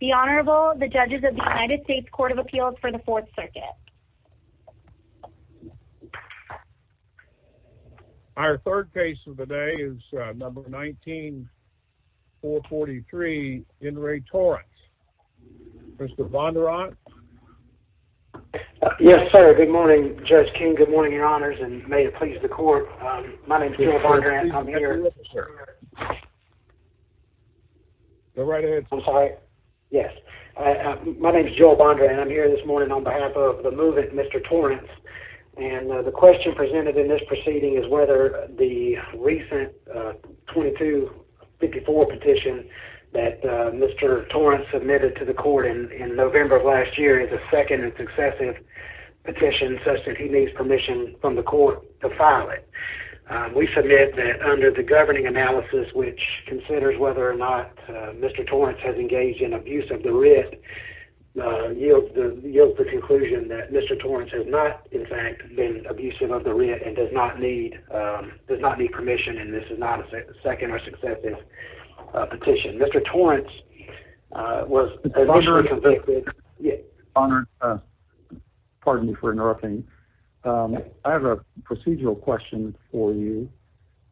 The Honorable, the judges of the United States Court of Appeals for the Fourth Circuit. Our third case of the day is number 19-443, Enri Torrence. Mr. Vondrant? Yes, sir. Good morning, Judge King. Good morning, your honors, and may it please the court, my name is Enri Vondrant, I'm here. My name is Joel Vondrant and I'm here this morning on behalf of the movement, Mr. Torrence, and the question presented in this proceeding is whether the recent 2254 petition that Mr. Torrence submitted to the court in November of last year is a second and successive petition such that he needs permission from the court to file it. We submit that under the governing analysis, which considers whether or not Mr. Torrence has engaged in abuse of the writ, yields the conclusion that Mr. Torrence has not, in fact, been abusive of the writ and does not need permission, and this is not a second or successive petition. Mr. Torrence was initially convicted-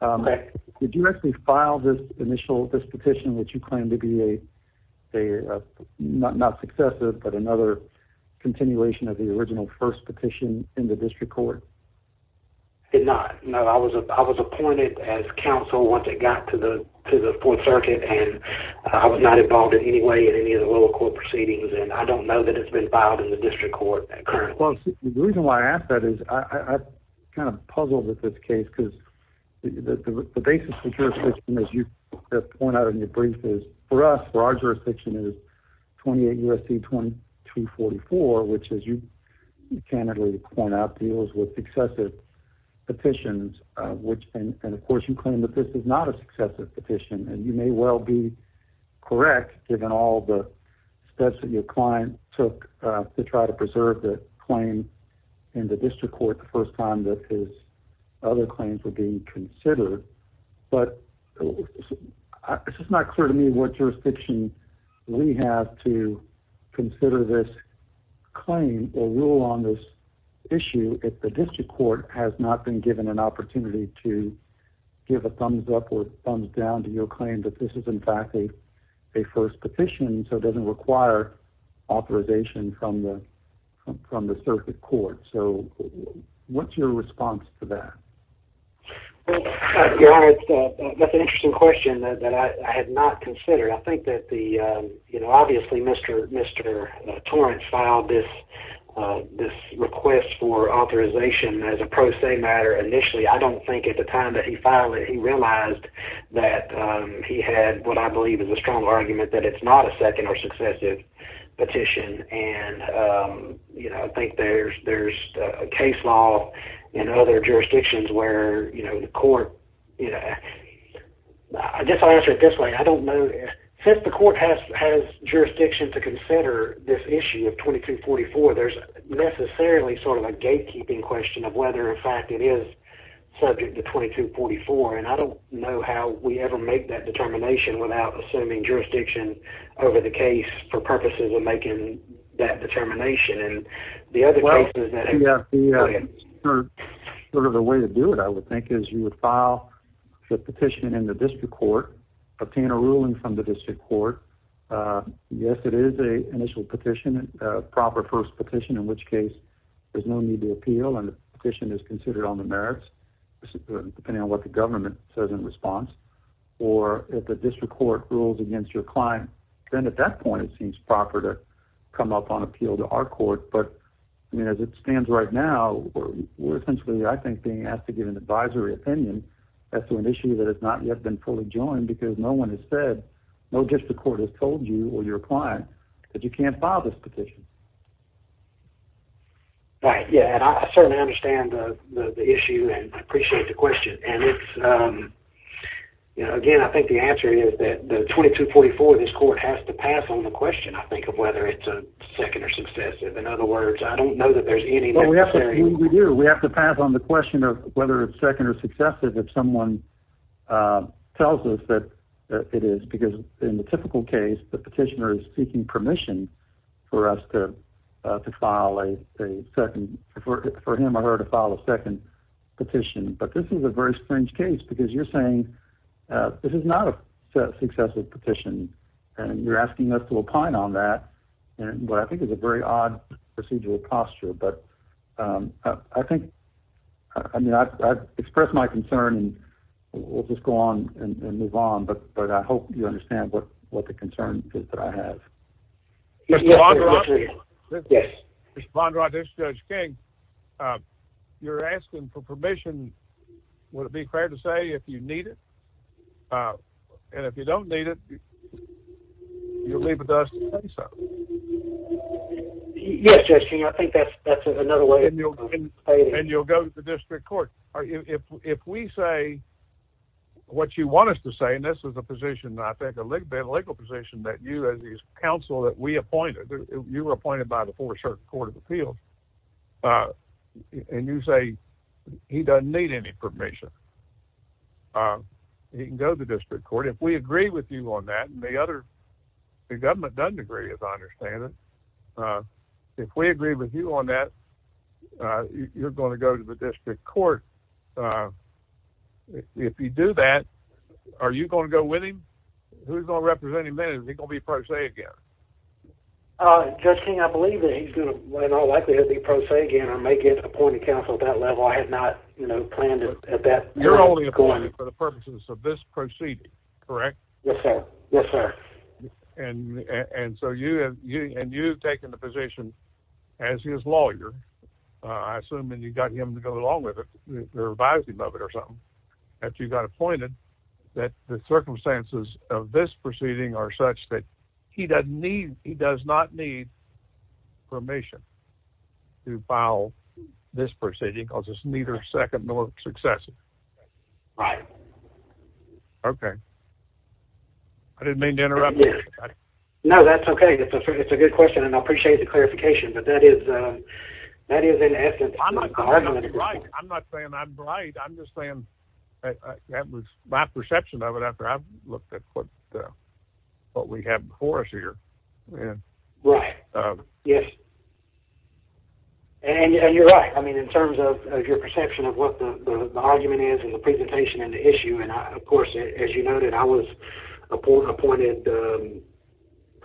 Correct. Did you actually file this petition that you claim to be a, not successive, but another continuation of the original first petition in the district court? I did not. No, I was appointed as counsel once it got to the Fourth Circuit and I was not involved in any way in any of the lower court proceedings and I don't know that it's been filed in the district court currently. Well, the reason why I ask that is I'm kind of puzzled with this case because the basis of your position, as you point out in your brief, is for us, for our jurisdiction, is 28 U.S.C. 2244, which, as you candidly point out, deals with successive petitions, which and of course you claim that this is not a successive petition and you may well be correct given all the steps that your client took to try to preserve the claim in the district court the first time that his other claims were being considered, but it's just not clear to me what jurisdiction we have to consider this claim or rule on this issue if the district court has not been given an opportunity to give a thumbs up or thumbs down to your claim that this is, in fact, a first petition so it doesn't require authorization from the circuit court. So what's your response to that? Well, your Honor, that's an interesting question that I had not considered. I think that the, you know, obviously Mr. Torrance filed this request for authorization as a pro se matter initially. I don't think at the time that he filed it he realized that he had what I believe is a strong argument that it's not a second or successive petition and, you know, I think there's a case law in other jurisdictions where, you know, the court, you know, I guess I'll answer it this way. I don't know, since the court has jurisdiction to consider this issue of 2244, there's necessarily sort of a gatekeeping question of whether, in fact, it is subject to 2244 and I don't know how we ever make that determination without assuming jurisdiction over the case for purposes of making that determination and the other cases that have been... Well, you have sort of a way to do it, I would think, is you would file the petition in the district court, obtain a ruling from the district court, yes, it is an initial petition, a proper first petition, in which case there's no need to appeal and the petition is considered on the merits, depending on what the government says in response, or if the district court rules against your client, then at that point it seems proper to come up on appeal to our court, but, you know, as it stands right now, we're essentially, I think, being asked to give an advisory opinion as to an issue that has not yet been fully joined because no one has said, no district court has told you or your client that you can't file this petition. Right, yeah, and I certainly understand the issue and I appreciate the question and it's, you know, again, I think the answer is that the 2244, this court has to pass on the question, I think, of whether it's a second or successive, in other words, I don't know that there's any necessary... Well, we have to, we do, we have to pass on the question of whether it's second or successive if someone tells us that it is, because in the typical case, the petitioner is seeking permission for us to file a second, for him or her to file a second petition, but this is a very strange case because you're saying this is not a successive petition and you're asking us to opine on that, and what I think is a very odd procedural posture, but I think, I mean, I've expressed my concern and we'll just go on and move on, but I hope you understand what the concern is that I have. Mr. Bondrod, this is Judge King, you're asking for permission, would it be fair to say, if you need it, and if you don't need it, you'll leave it to us to say so. Yes, Judge King, I think that's another way of explaining... And you'll go to the district court. If we say what you want us to say, and this is a position, I think a legal position that you as a council, that we appointed, you were appointed by the Fourth Circuit Court of Appeals, and you say he doesn't need any permission, he can go to the district court. If we agree with you on that, and the other, the government doesn't agree, as I understand it, if we agree with you on that, you're going to go to the district court. If you do that, are you going to go with him? Who's going to represent him then? Is he going to be pro se again? Judge King, I believe that he's going to, in all likelihood, be pro se again, or may get appointed council at that level. I had not planned it at that point. You're only appointed for the purposes of this proceeding, correct? Yes, sir. Yes, sir. And so you've taken the position as his lawyer, I assume, and you got him to go along with it, or advise him of it or something, after you got appointed, that the circumstances of this proceeding are such that he does not need permission to file this proceeding, because it's neither second nor successive. Right. Okay. I didn't mean to interrupt you. No, that's okay. It's a good question, and I appreciate the clarification, but that is, in essence, the argument. I'm not saying I'm right. I'm just saying that was my perception of it, after I've looked at what we have before us here. Right. Yes. And you're right. I mean, in terms of your perception of what the argument is, and the presentation, and the issue, and of course, as you noted, I was appointed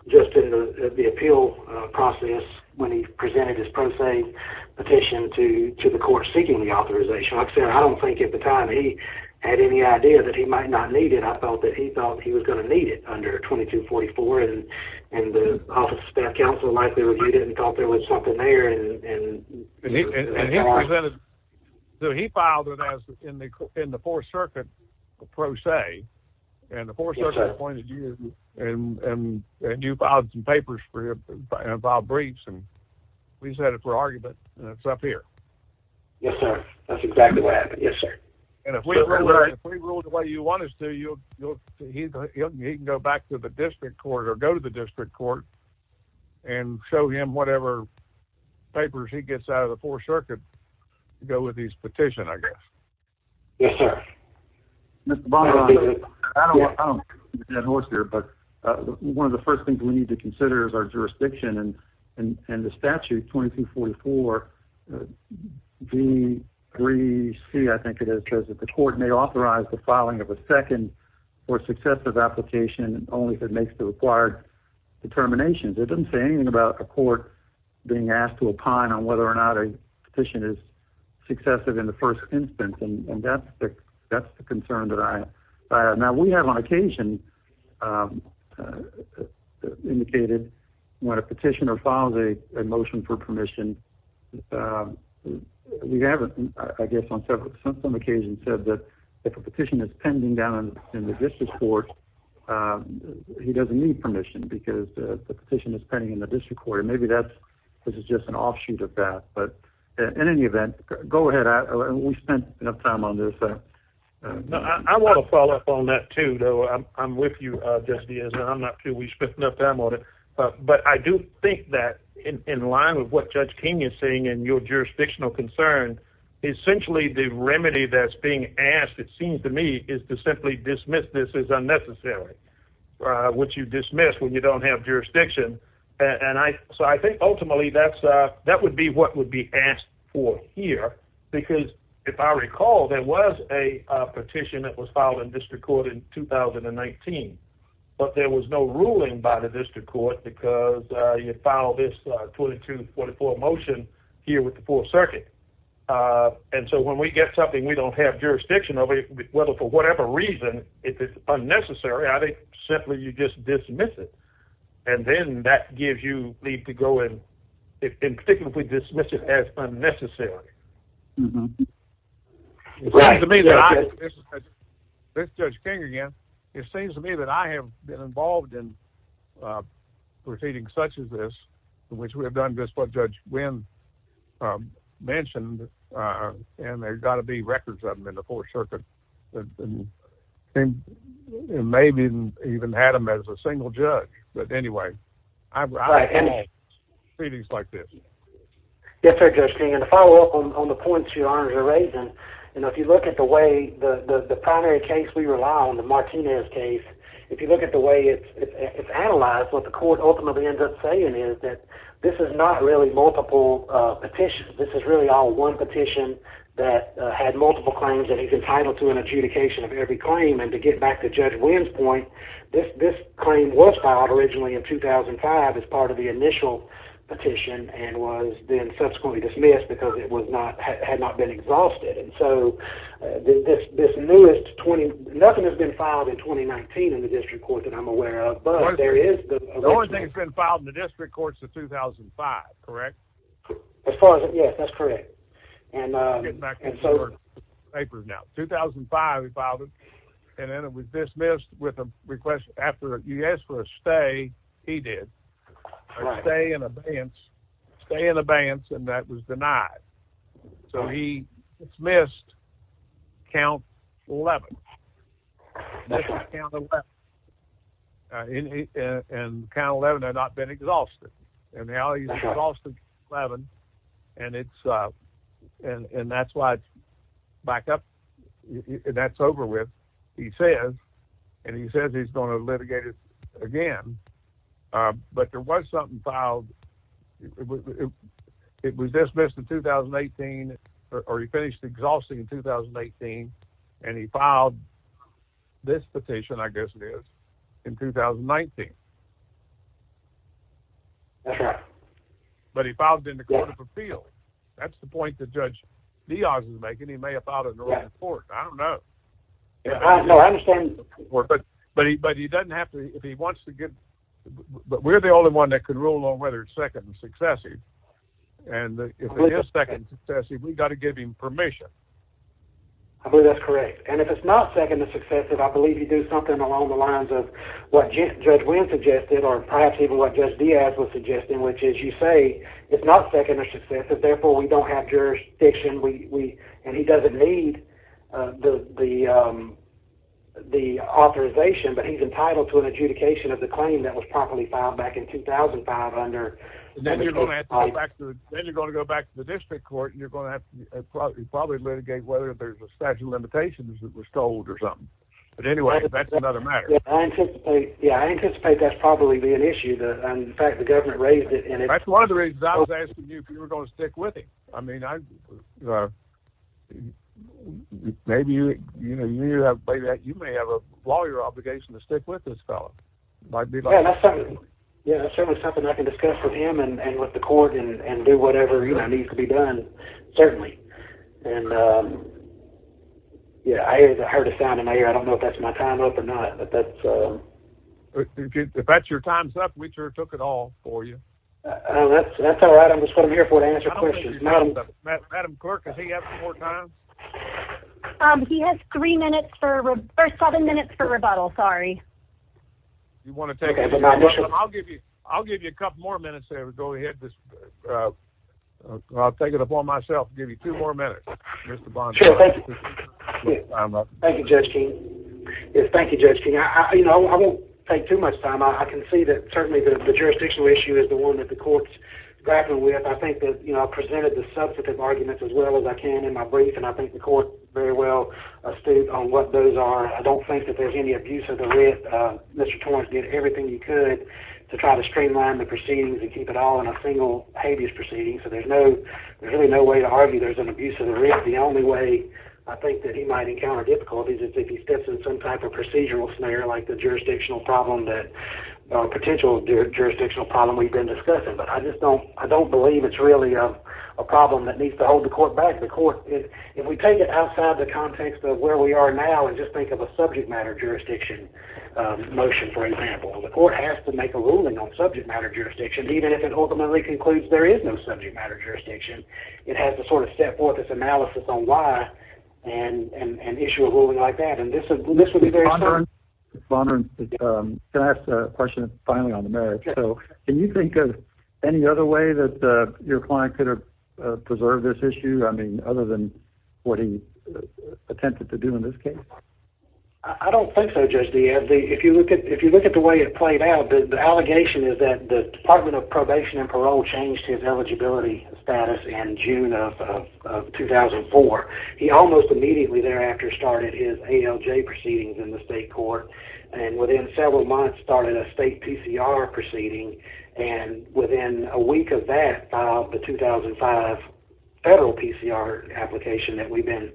just in the appeal process, when he presented his pro se petition to the court, seeking the authorization. Like I said, I don't think, at the time, he had any idea that he might not need it. I thought that he thought he was going to need it under 2244, and the Office of Staff Counsel likely reviewed it, and thought there was something there, and he filed it in the Fourth Circuit, a pro se, and the Fourth Circuit appointed you, and you filed some papers for him, and filed briefs, and we set it for argument, and it's up here. Yes, sir. That's exactly what happened. Yes, sir. And if we rule the way you want us to, he can go back to the district court, or go to the district court, and show him whatever papers he gets out of the Fourth Circuit to go with his petition, I guess. Yes, sir. Mr. Baumgartner, I don't want to be a dead horse here, but one of the first things we need to consider is our jurisdiction, and the statute, 2244, V3C, I think it is, says that the court may authorize the filing of a second or successive application, only if it makes the required determinations. It doesn't say anything about a court being asked to opine on whether or not a petition is successive in the first instance, and that's the concern that I have. Now, we have on occasion indicated when a petitioner files a motion for permission, we have, I guess, on some occasions said that if a petition is pending down in the district court, he doesn't need permission, because the petition is pending in the district court. Maybe this is just an offshoot of that, but in any event, go ahead, we spent enough time on this. I want to follow up on that, too, though. I'm with you, Judge Diaz, and I'm not too. We spent enough time on it, but I do think that in line with what Judge King is saying and your jurisdictional concern, essentially the remedy that's being asked, it seems to me, is to simply dismiss this as unnecessary, which you dismiss when you don't have jurisdiction, and so I think ultimately that would be what would be asked for here, because if I recall, there was a petition that was filed in district court in 2019, but there was no ruling by the district court because you filed this 2244 motion here with the 4th Circuit, and so when we get something we don't have jurisdiction over, whether for whatever reason, if it's And that gives you leave to go and, in particular, dismiss it as unnecessary. It seems to me that I have been involved in proceedings such as this, in which we have done just what Judge Wynn mentioned, and there's got to be records of them in the 4th Circuit, and maybe even had them as a single judge. But anyway, I've been involved in proceedings like this. Yes, sir, Judge King, and to follow up on the points your honors are raising, you know, if you look at the way the primary case we rely on, the Martinez case, if you look at the way it's analyzed, what the court ultimately ends up saying is that this is not really multiple petitions. This is really all one petition that had multiple claims, and he's entitled to an adjudication of every claim, and to get back to Judge Wynn's point, this claim was filed. Originally in 2005, as part of the initial petition, and was then subsequently dismissed because it had not been exhausted, and so nothing has been filed in 2019 in the District Court that I'm aware of, but there is the original. The only thing that's been filed in the District Court is the 2005, correct? Yes, that's correct. I'm getting back to your papers now. In 2005, he filed it, and then it was dismissed with a request after you asked for a stay, he did, a stay in abeyance, and that was denied, so he dismissed count 11, and count 11 had not been exhausted, and now he's exhausted 11, and that's why it's back up, and that's over with. He says, and he says he's going to litigate it again, but there was something filed. It was dismissed in 2018, or he finished exhausting in 2018, and he filed this petition, I guess it is, in 2019, but he filed it in the Court of Appeal. That's the point that Judge Dioz is making. He may have filed it in Oregon Court, I don't know, but he doesn't have to, if he wants to get, but we're the only one that can rule on whether it's second and successive, and if it is second and successive, we've got to give him permission. I believe that's correct, and if it's not second and successive, I believe you do something along the lines of what Judge Wynn suggested, or perhaps even what Judge Dioz was suggesting, which is you say, it's not second and successive, therefore we don't have jurisdiction, and he doesn't need the authorization, but he's entitled to an adjudication of the claim that was properly filed back in 2005 under... Then you're going to go back to the district court, and you're going to have to probably litigate whether there's a statute of limitations that was told or something, but anyway, that's another matter. Yeah, I anticipate that's probably going to be an issue, and in fact, the government raised it, and it's... That's one of the reasons I was asking you if you were going to stick with him. I mean, maybe you may have a lawyer obligation to stick with this fellow. Yeah, that's certainly something I can discuss with him and with the court and do whatever needs to be done, certainly, and yeah, I heard a sound in my ear, I don't know if that's getting my time up or not, but that's... If that's your time's up, we sure took it all for you. That's all right. That's what I'm here for, to answer questions. Madam clerk, does he have some more time? He has seven minutes for rebuttal, sorry. You want to take... I'll give you a couple more minutes there. Go ahead. I'll take it upon myself to give you two more minutes, Mr. Bondi. Thank you. Thank you. Thank you. Thank you. Thank you. Thank you. Thank you. Thank you. Thank you. Thank you. Thank you, Judge King. I won't take too much time. I can see that, certainly, the jurisdictional issue is the one that the court's grappling with. I think that I presented the substantive arguments as well as I can in my brief, and I think the court very well astute on what those are. I don't think that there's any abuse of the writ. Mr. Torrence did everything he could to try to streamline the proceedings and keep it all in a single habeas proceeding, so there's really no way to argue there's an abuse of the writ. The only way I think that he might encounter difficulties is if he steps in some type of procedural snare like the jurisdictional problem that, potential jurisdictional problem we've been discussing, but I just don't believe it's really a problem that needs to hold the court back. The court, if we take it outside the context of where we are now and just think of a subject matter jurisdiction motion, for example, the court has to make a ruling on subject matter jurisdiction even if it ultimately concludes there is no subject matter jurisdiction. It has to sort of step forth its analysis on why and issue a ruling like that, and this would be very... Mr. Bondurant, can I ask a question finally on the merits? Can you think of any other way that your client could have preserved this issue, I mean, other than what he attempted to do in this case? I don't think so, Judge Deeb. If you look at the way it played out, the allegation is that the Department of Probation and Parole changed his eligibility status in June of 2004. He almost immediately thereafter started his ALJ proceedings in the state court, and within several months started a state PCR proceeding, and within a week of that, the 2005 federal PCR application that we've been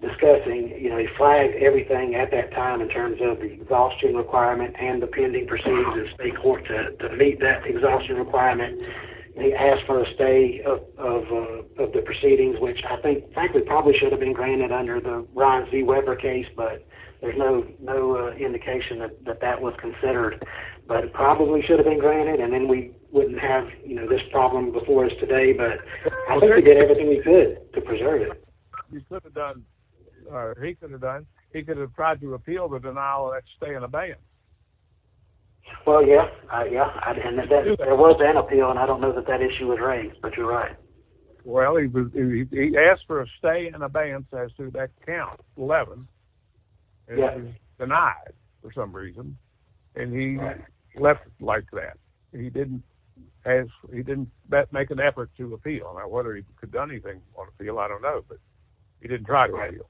discussing, he flagged everything at that time in terms of the exhaustion requirement and the pending proceedings in state court to meet that exhaustion requirement. He asked for a stay of the proceedings, which I think, frankly, probably should have been granted under the Ron Z. Weber case, but there's no indication that that was considered, but it probably should have been granted, and then we wouldn't have this problem before us today, but I think we did everything we could to preserve it. He could have done... He could have tried to repeal the denial of that stay in abeyance. Well, yeah. There was an appeal, and I don't know that that issue was raised, but you're right. Well, he asked for a stay in abeyance as to that count, 11, and it was denied for some reason, and he left it like that. He didn't make an effort to appeal. Now, whether he could have done anything on appeal, I don't know, but he didn't try to appeal.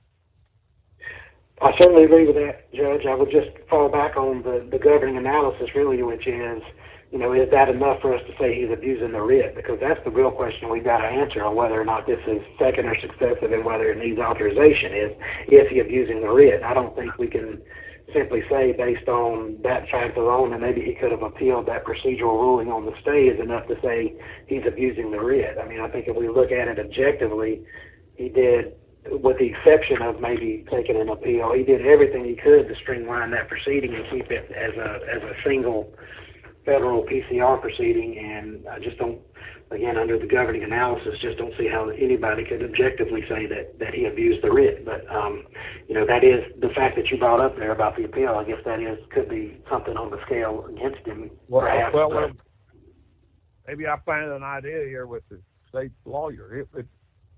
I certainly agree with that, Judge. I would just fall back on the governing analysis, really, which is, is that enough for us to say he's abusing the writ, because that's the real question we've got to answer on whether or not this is second or successive, and whether it needs authorization, is if he's abusing the writ. I don't think we can simply say, based on that fact alone, that maybe he could have appealed that procedural ruling on the stay is enough to say he's abusing the writ. I mean, I think if we look at it objectively, he did, with the exception of maybe taking an appeal, he did everything he could to streamline that proceeding and keep it as a single federal PCR proceeding, and I just don't, again, under the governing analysis, just don't see how anybody could objectively say that he abused the writ, but that is, the fact that you brought up there about the appeal, I guess that is, could be something on the scale against him, perhaps. Well, maybe I find an idea here with the state lawyer,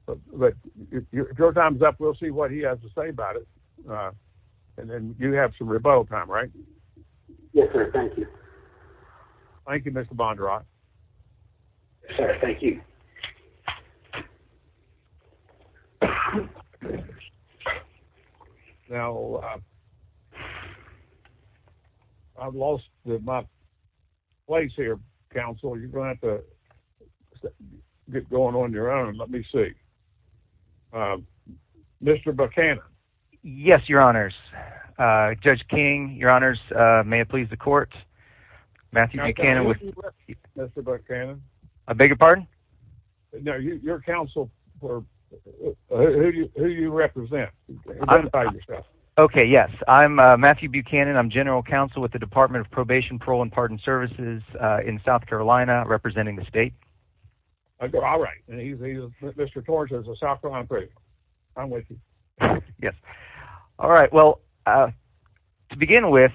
but if your time's up, we'll see what he has to say about it, and then you have some rebuttal time, right? Yes, sir. Thank you. Thank you, Mr. Bondurant. Yes, sir. Thank you. Now, I've lost my place here, counsel, you're going to have to get going on your own, let me see. Mr. Buchanan. Yes, your honors. Judge King, your honors, may it please the court, Matthew Buchanan with... Mr. Buchanan. I beg your pardon? No, your counsel for, who do you represent? Identify yourself. Okay, yes, I'm Matthew Buchanan, I'm general counsel with the Department of Probation, Parole, and Pardon Services in South Carolina, representing the state. All right. And he's, Mr. Torch is a South Carolina prisoner. I'm with you. Yes. All right, well, to begin with,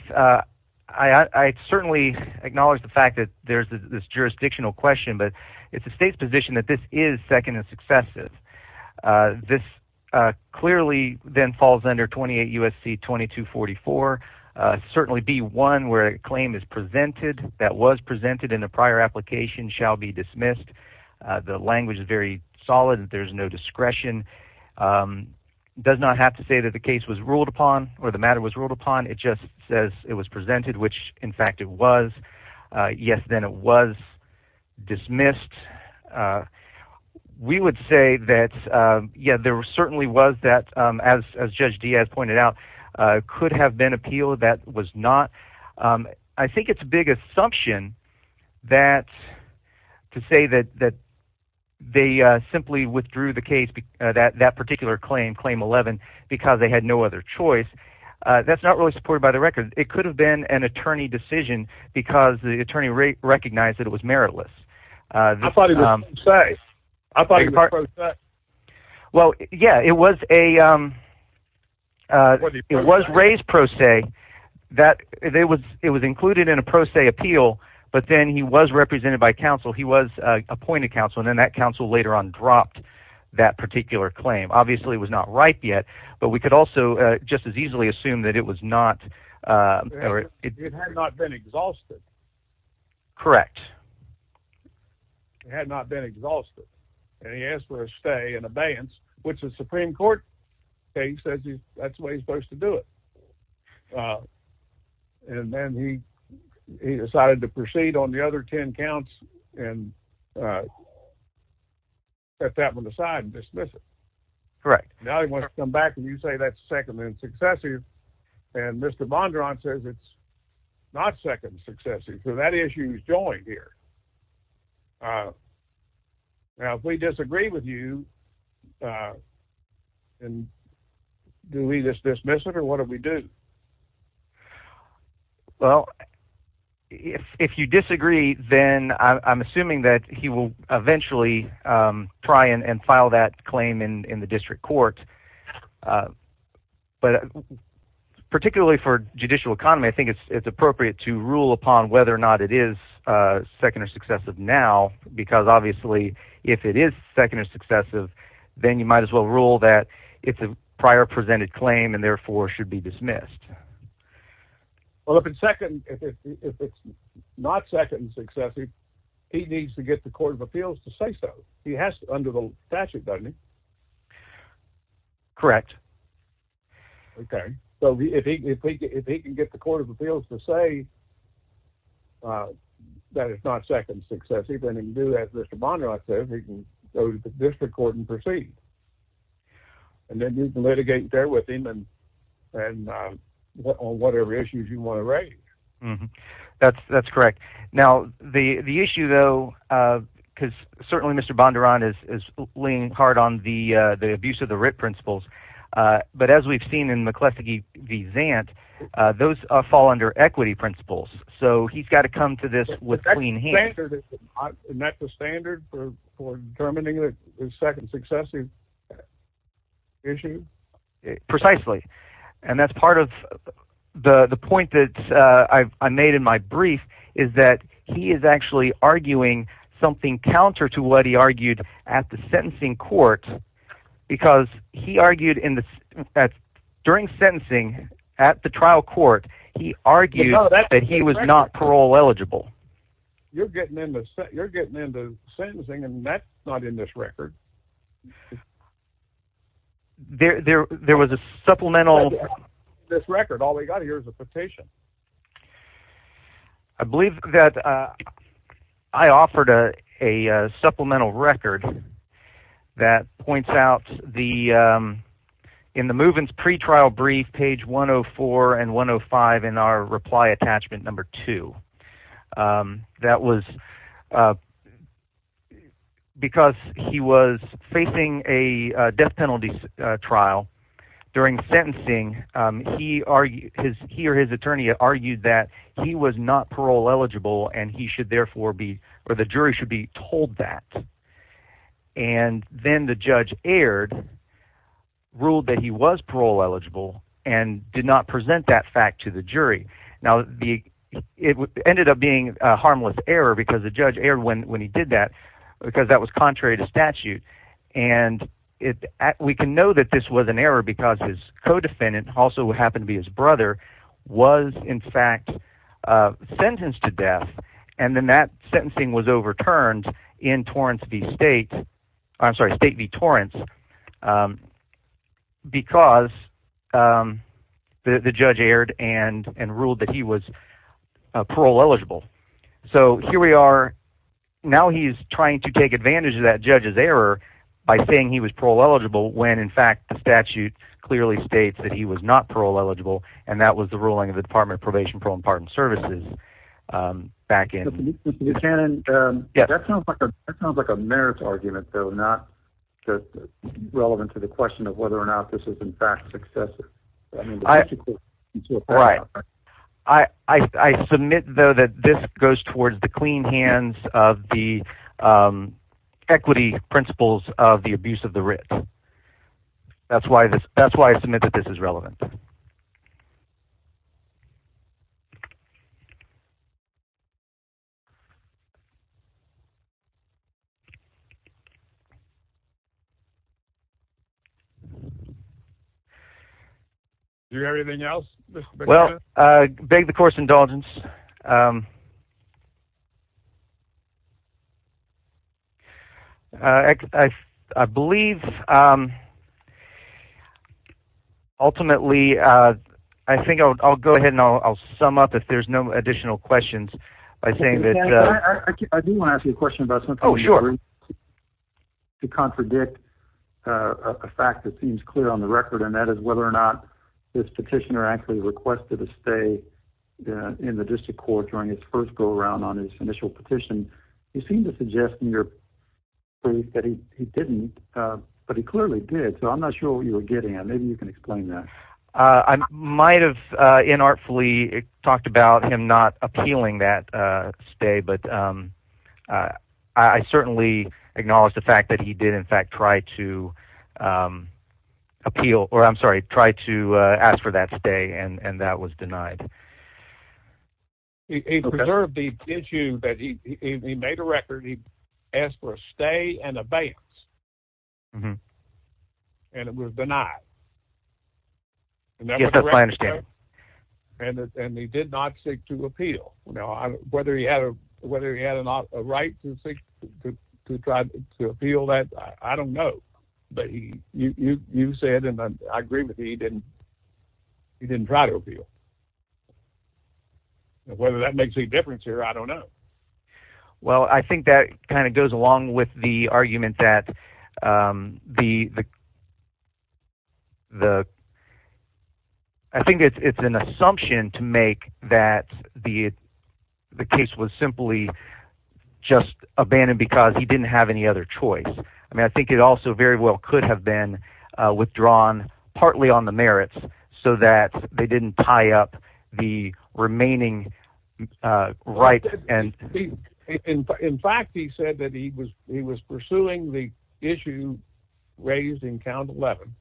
I certainly acknowledge the fact that there's this jurisdictional question, but it's the state's position that this is second and successive. This clearly then falls under 28 U.S.C. 2244, certainly be one where a claim is presented that was presented in a prior application shall be dismissed. The language is very solid, there's no discretion. Does not have to say that the case was ruled upon, or the matter was ruled upon, it just says it was presented, which, in fact, it was. Yes, then it was dismissed. We would say that, yeah, there certainly was that, as Judge Diaz pointed out, could have been appealed, that was not. I think it's a big assumption that to say that they simply withdrew the case, that particular claim, Claim 11, because they had no other choice. That's not really supported by the record. It could have been an attorney decision because the attorney recognized that it was meritless. I thought it was pro se. I thought it was pro se. Well, yeah, it was raised pro se. It was included in a pro se appeal, but then he was represented by counsel. He was appointed counsel, and then that counsel later on dropped that particular claim. Obviously it was not right yet, but we could also just as easily assume that it was not. It had not been exhausted. Correct. It had not been exhausted. And he asked for a stay and abeyance, which the Supreme Court case says that's the way he's supposed to do it. And then he decided to proceed on the other 10 counts and set that one aside and dismiss it. Correct. Now he wants to come back and you say that's second and successive. And Mr. Bondron says it's not second and successive. So that issue is joined here. Now if we disagree with you, do we just dismiss it or what do we do? Well, if you disagree, then I'm assuming that he will eventually try and file that claim in the district court. But particularly for judicial economy, I think it's appropriate to rule upon whether or not it is second or successive now. Because obviously if it is second or successive, then you might as well rule that it's a prior presented claim and therefore should be dismissed. Well, if it's not second and successive, he needs to get the Court of Appeals to say so. He has to under the statute, doesn't he? Correct. Okay. So if he can get the Court of Appeals to say that it's not second and successive, then he can do as Mr. Bondron says, he can go to the district court and proceed. And then you can litigate there with him on whatever issues you want to raise. That's correct. Now the issue though, because certainly Mr. Bondron is leaning hard on the abuse of the but as we've seen in McCleskey v. Zant, those fall under equity principles. So he's got to come to this with clean hands. Isn't that the standard for determining that it's second and successive issue? Precisely. And that's part of the point that I made in my brief is that he is actually arguing something counter to what he argued at the sentencing court because he argued that during sentencing at the trial court, he argued that he was not parole eligible. You're getting into sentencing and that's not in this record. There was a supplemental... This record, all we got here is a petition. I believe that I offered a supplemental record that points out in the Muvins pretrial brief, page 104 and 105 in our reply attachment number two. That was because he was facing a death penalty trial during sentencing. He or his attorney argued that he was not parole eligible and the jury should be told that. And then the judge erred, ruled that he was parole eligible and did not present that fact to the jury. Now it ended up being a harmless error because the judge erred when he did that because that was contrary to statute. And we can know that this was an error because his co-defendant, who also happened to be his brother, was in fact sentenced to death. And then that sentencing was overturned in State v. Torrance because the judge erred and ruled that he was parole eligible. So here we are. Now he's trying to take advantage of that judge's error by saying he was parole eligible when in fact the statute clearly states that he was not parole eligible and that was the ruling of the Department of Probation, Parole and Pardon Services back in... Mr. Buchanan, that sounds like a merits argument though, not relevant to the question of whether or not this is in fact successive. Right. I submit though that this goes towards the clean hands of the equity principles of the abuse of the writ. That's why I submit that this is relevant. Do you have anything else, Mr. Buchanan? Well, I beg the court's indulgence. I believe, ultimately, I think I'll go ahead and I'll sum up if there's no additional questions by saying that... I do want to ask you a question about something. Oh, sure. To contradict a fact that seems clear on the record, and that is whether or not this petitioner actually requested a stay in the District of Columbia during his first go-around on his initial petition, you seem to suggest in your brief that he didn't, but he clearly did. So I'm not sure what you're getting at. Maybe you can explain that. I might have inartfully talked about him not appealing that stay, but I certainly acknowledge the fact that he did in fact try to appeal... He preserved the issue that he made a record. He asked for a stay and abeyance, and it was denied. Yes, that's my understanding. And he did not seek to appeal. Now, whether he had a right to try to appeal that, I don't know. But you said, and I agree with you, he didn't try to appeal. Whether that makes any difference here, I don't know. Well, I think that kind of goes along with the argument that the... I think it's an assumption to make that the case was simply just abandoned because he didn't have any other choice. I mean, I think it also very well could have been withdrawn partly on the merits so that they didn't tie up the remaining rights. In fact, he said that he was pursuing the issue raised in Count 11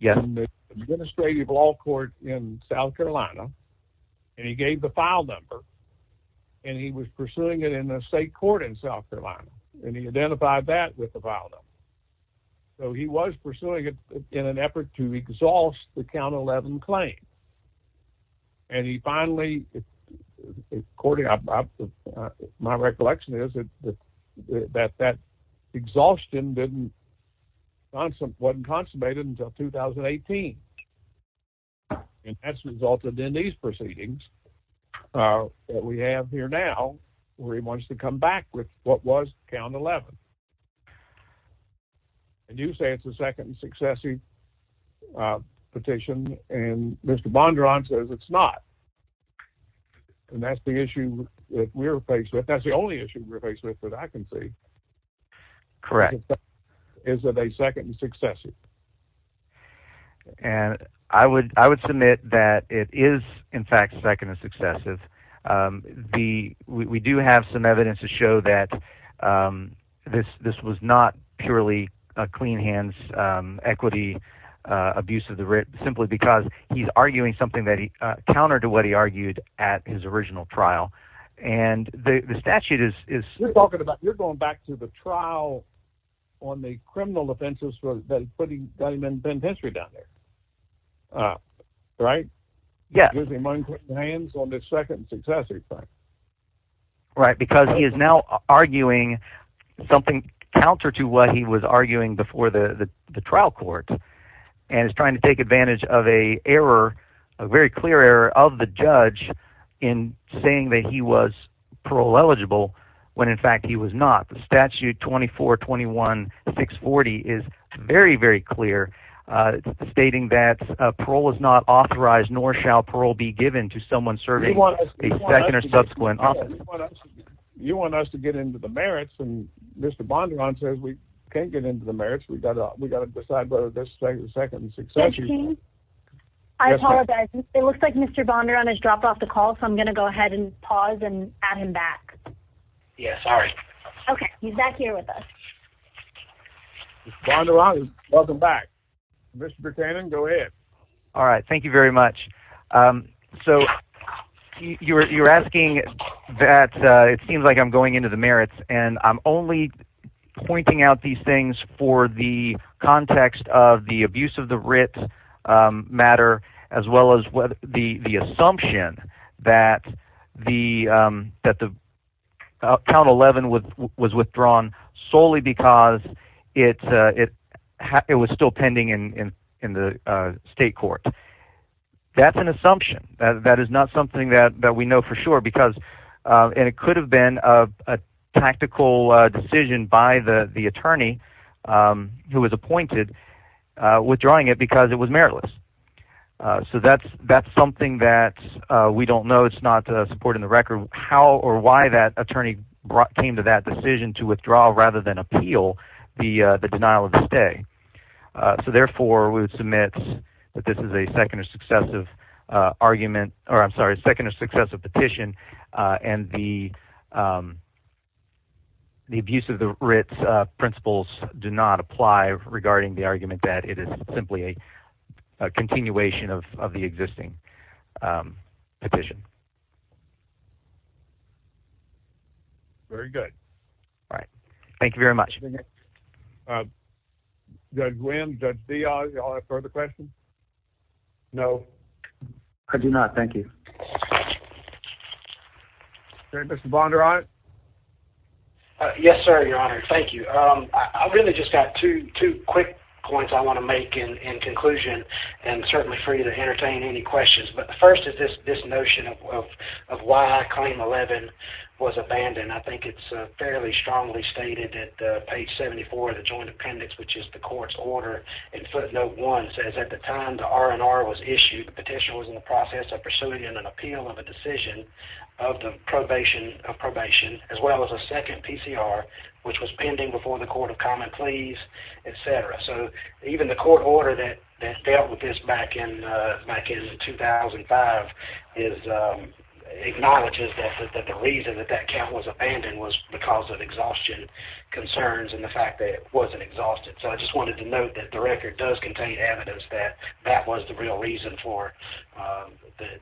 in the administrative law court in South Carolina, and he gave the file number. And he was pursuing it in a state court in South Carolina, and he identified that with the file number. So he was pursuing it in an effort to exhaust the Count 11 claim. And he finally, according to my recollection, is that that exhaustion wasn't consummated until 2018. And that's resulted in these proceedings that we have here now where he wants to come back with what was Count 11. And you say it's a second and successive petition, and Mr. Bondurant says it's not. And that's the issue that we're faced with. That's the only issue we're faced with that I can see. Correct. Is it a second and successive? And I would submit that it is, in fact, second and successive. We do have some evidence to show that this was not purely a clean-hands equity abuse of the writ simply because he's arguing something that he countered to what he argued at his original trial. And the statute is... You're going back to the trial on the criminal offenses that put him in penitentiary down there, right? He was among hands on this second and successive thing. Right, because he is now arguing something counter to what he was arguing before the trial court and is trying to take advantage of a very clear error of the judge in saying that he was parole-eligible when, in fact, he was not. The statute 2421-640 is very, very clear, stating that parole is not authorized nor shall parole be given to someone serving a second or subsequent office. You want us to get into the merits, and Mr Bondurant says we can't get into the merits. We've got to decide whether this is second and successive. Judge King, I apologize. It looks like Mr Bondurant has dropped off the call, so I'm going to go ahead and pause and add him back. Yeah, sorry. OK, he's back here with us. Mr Bondurant, welcome back. Mr Buchanan, go ahead. All right, thank you very much. So you're asking that it seems like I'm going into the merits, and I'm only pointing out these things for the context of the abuse of the writ matter as well as the assumption that the Count 11 was withdrawn solely because it was still pending in the state court. That's an assumption. That is not something that we know for sure, and it could have been a tactical decision by the attorney who was appointed withdrawing it because it was meritless. So that's something that we don't know. It's not supported in the record or why that attorney came to that decision to withdraw rather than appeal the denial of the stay. So therefore, we would submit that this is a second or successive argument or, I'm sorry, a second or successive petition and the abuse of the writ principles do not apply regarding the argument that it is simply a continuation of the existing petition. Very good. All right. Thank you very much. Judge Wynn, Judge Diaz, y'all have further questions? No. I do not. Thank you. Is Mr. Bondurant? Yes, sir, Your Honor. Thank you. I've really just got two quick points I want to make in conclusion and certainly for you to entertain any questions. The first is this notion of why Claim 11 was abandoned. I think it's fairly strongly stated at page 74 of the Joint Appendix, which is the court's order in footnote 1. It says, at the time the R&R was issued, the petitioner was in the process of pursuing an appeal of a decision of the probation, as well as a second PCR, which was pending before the Court of Common Pleas, etc. So even the court order that dealt with this back in 2005 acknowledges that the reason that that count was abandoned was because of exhaustion concerns and the fact that it wasn't exhausted. So I just wanted to note that the record does contain evidence that that was the real reason for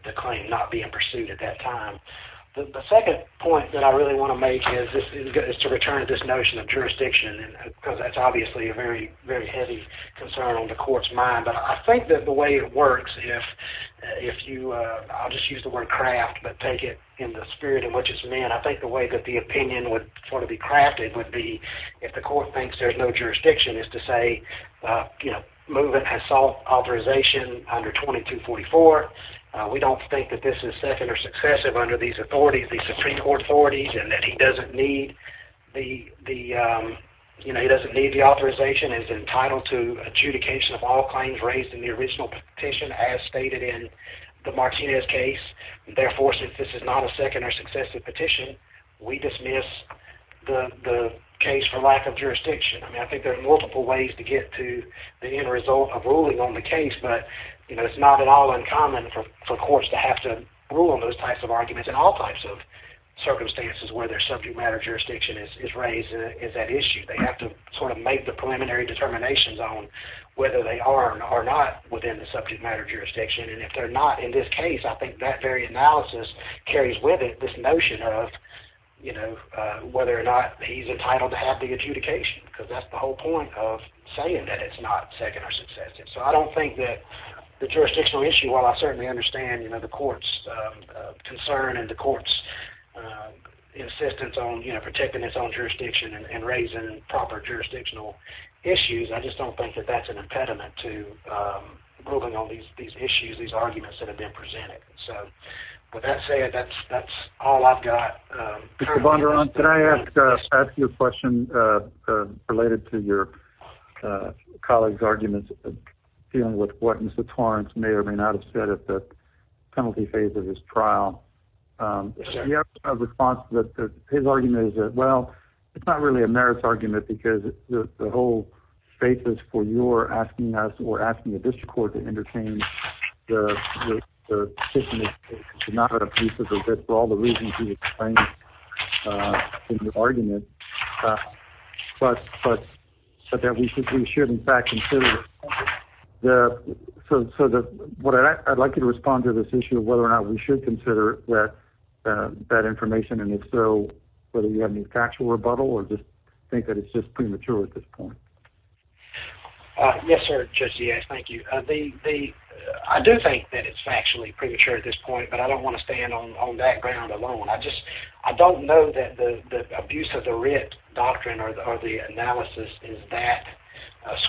the claim not being pursued at that time. The second point that I really want to make is to return to this notion of jurisdiction, because that's obviously a very heavy concern on the court's mind. But I think that the way it works, if you, I'll just use the word craft, but take it in the spirit in which it's meant, I think the way that the opinion would be crafted would be if the court thinks there's no jurisdiction, is to say, you know, movement has sought authorization under 2244. We don't think that this is second or successive under these authorities, these Supreme Court authorities, and that he doesn't need the authorization is entitled to adjudication of all claims raised in the original petition as stated in the Martinez case. Therefore, since this is not a second or successive petition, we dismiss the case for lack of jurisdiction. I mean, I think there are multiple ways to get to the end result of ruling on the case, but, you know, it's not at all uncommon for courts to have to rule on those types of arguments in all types of circumstances where their subject matter jurisdiction is raised is that issue. They have to sort of make the preliminary determinations on whether they are or not within the subject matter jurisdiction, and if they're not in this case, I think that very analysis carries with it this notion of, you know, whether or not he's entitled to have the adjudication, because that's the whole point of saying that it's not second or successive. So I don't think that the jurisdictional issue, while I certainly understand, you know, the court's concern and the court's insistence on, you know, protecting its own jurisdiction and raising proper jurisdictional issues, I just don't think that that's an impediment to ruling on these issues, these arguments that have been presented. So, with that said, that's all I've got. Mr. Bondurant, can I ask you a question related to your colleague's arguments dealing with what Mr. Torrance may or may not have said at the penalty phase of his trial? He has a response, but his argument is that, well, it's not really a merits argument because the whole basis for your asking us or asking the district court to entertain the petition is not a piece of the case for all the reasons he explained in the argument, but that we should, in fact, consider the... So I'd like you to respond to this issue of whether or not we should consider that information, and if so, whether you have any factual rebuttal or just think that it's just premature at this point. Yes, sir, Judge Giaz, thank you. I do think that it's factually premature at this point, but I don't want to stand on that ground alone. I just don't know that the abuse of the writ doctrine or the analysis is that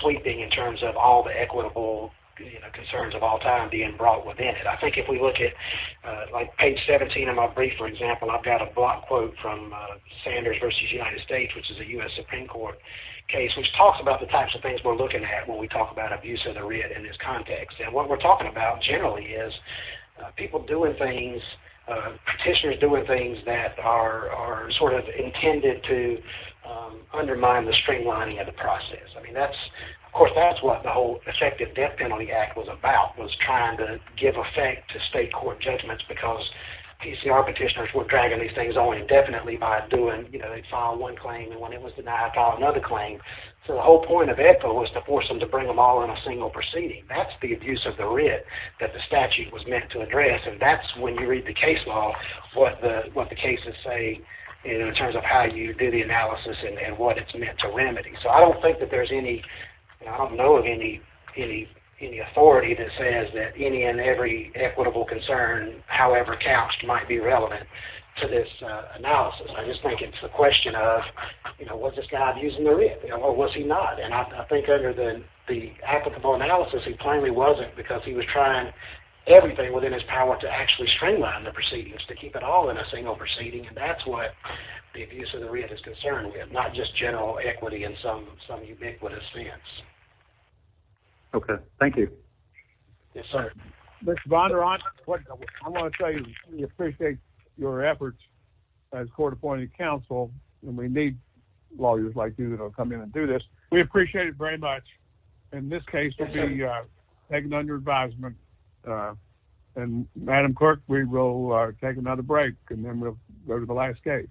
sweeping in terms of all the equitable concerns of all time being brought within it. I think if we look at, like, page 17 of my brief, for example, I've got a block quote from Sanders v. United States, which is a U.S. Supreme Court case, which talks about the types of things we're looking at when we talk about abuse of the writ in this context. And what we're talking about generally is people doing things, petitioners doing things that are sort of intended to undermine the streamlining of the process. I mean, of course, that's what the whole Effective Death Penalty Act was about, was trying to give effect to state court judgments because PCR petitioners were dragging these things on indefinitely by doing, you know, they filed one claim, and when it was denied, filed another claim. So the whole point of ECA was to force them to bring them all in a single proceeding. That's the abuse of the writ that the statute was meant to address, and that's when you read the case law, what the cases say in terms of how you do the analysis and what it's meant to remedy. So I don't think that there's any, and I don't know of any authority that says that any and every equitable concern however couched might be relevant to this analysis. I just think it's a question of, you know, was this guy abusing the writ, or was he not? And I think under the applicable analysis, he plainly wasn't because he was trying everything within his power to actually streamline the proceedings, to keep it all in a single proceeding, and that's what the abuse of the writ is concerned with, not just general equity in some ubiquitous sense. Okay. Thank you. Yes, sir. Mr. Bondurant, I want to tell you we appreciate your efforts as court appointed counsel, and we need lawyers like you that will come in and do this. We appreciate it very much, and this case will be taken under advisement. And Madam Clerk, we will take another break, and then we'll go to the last case.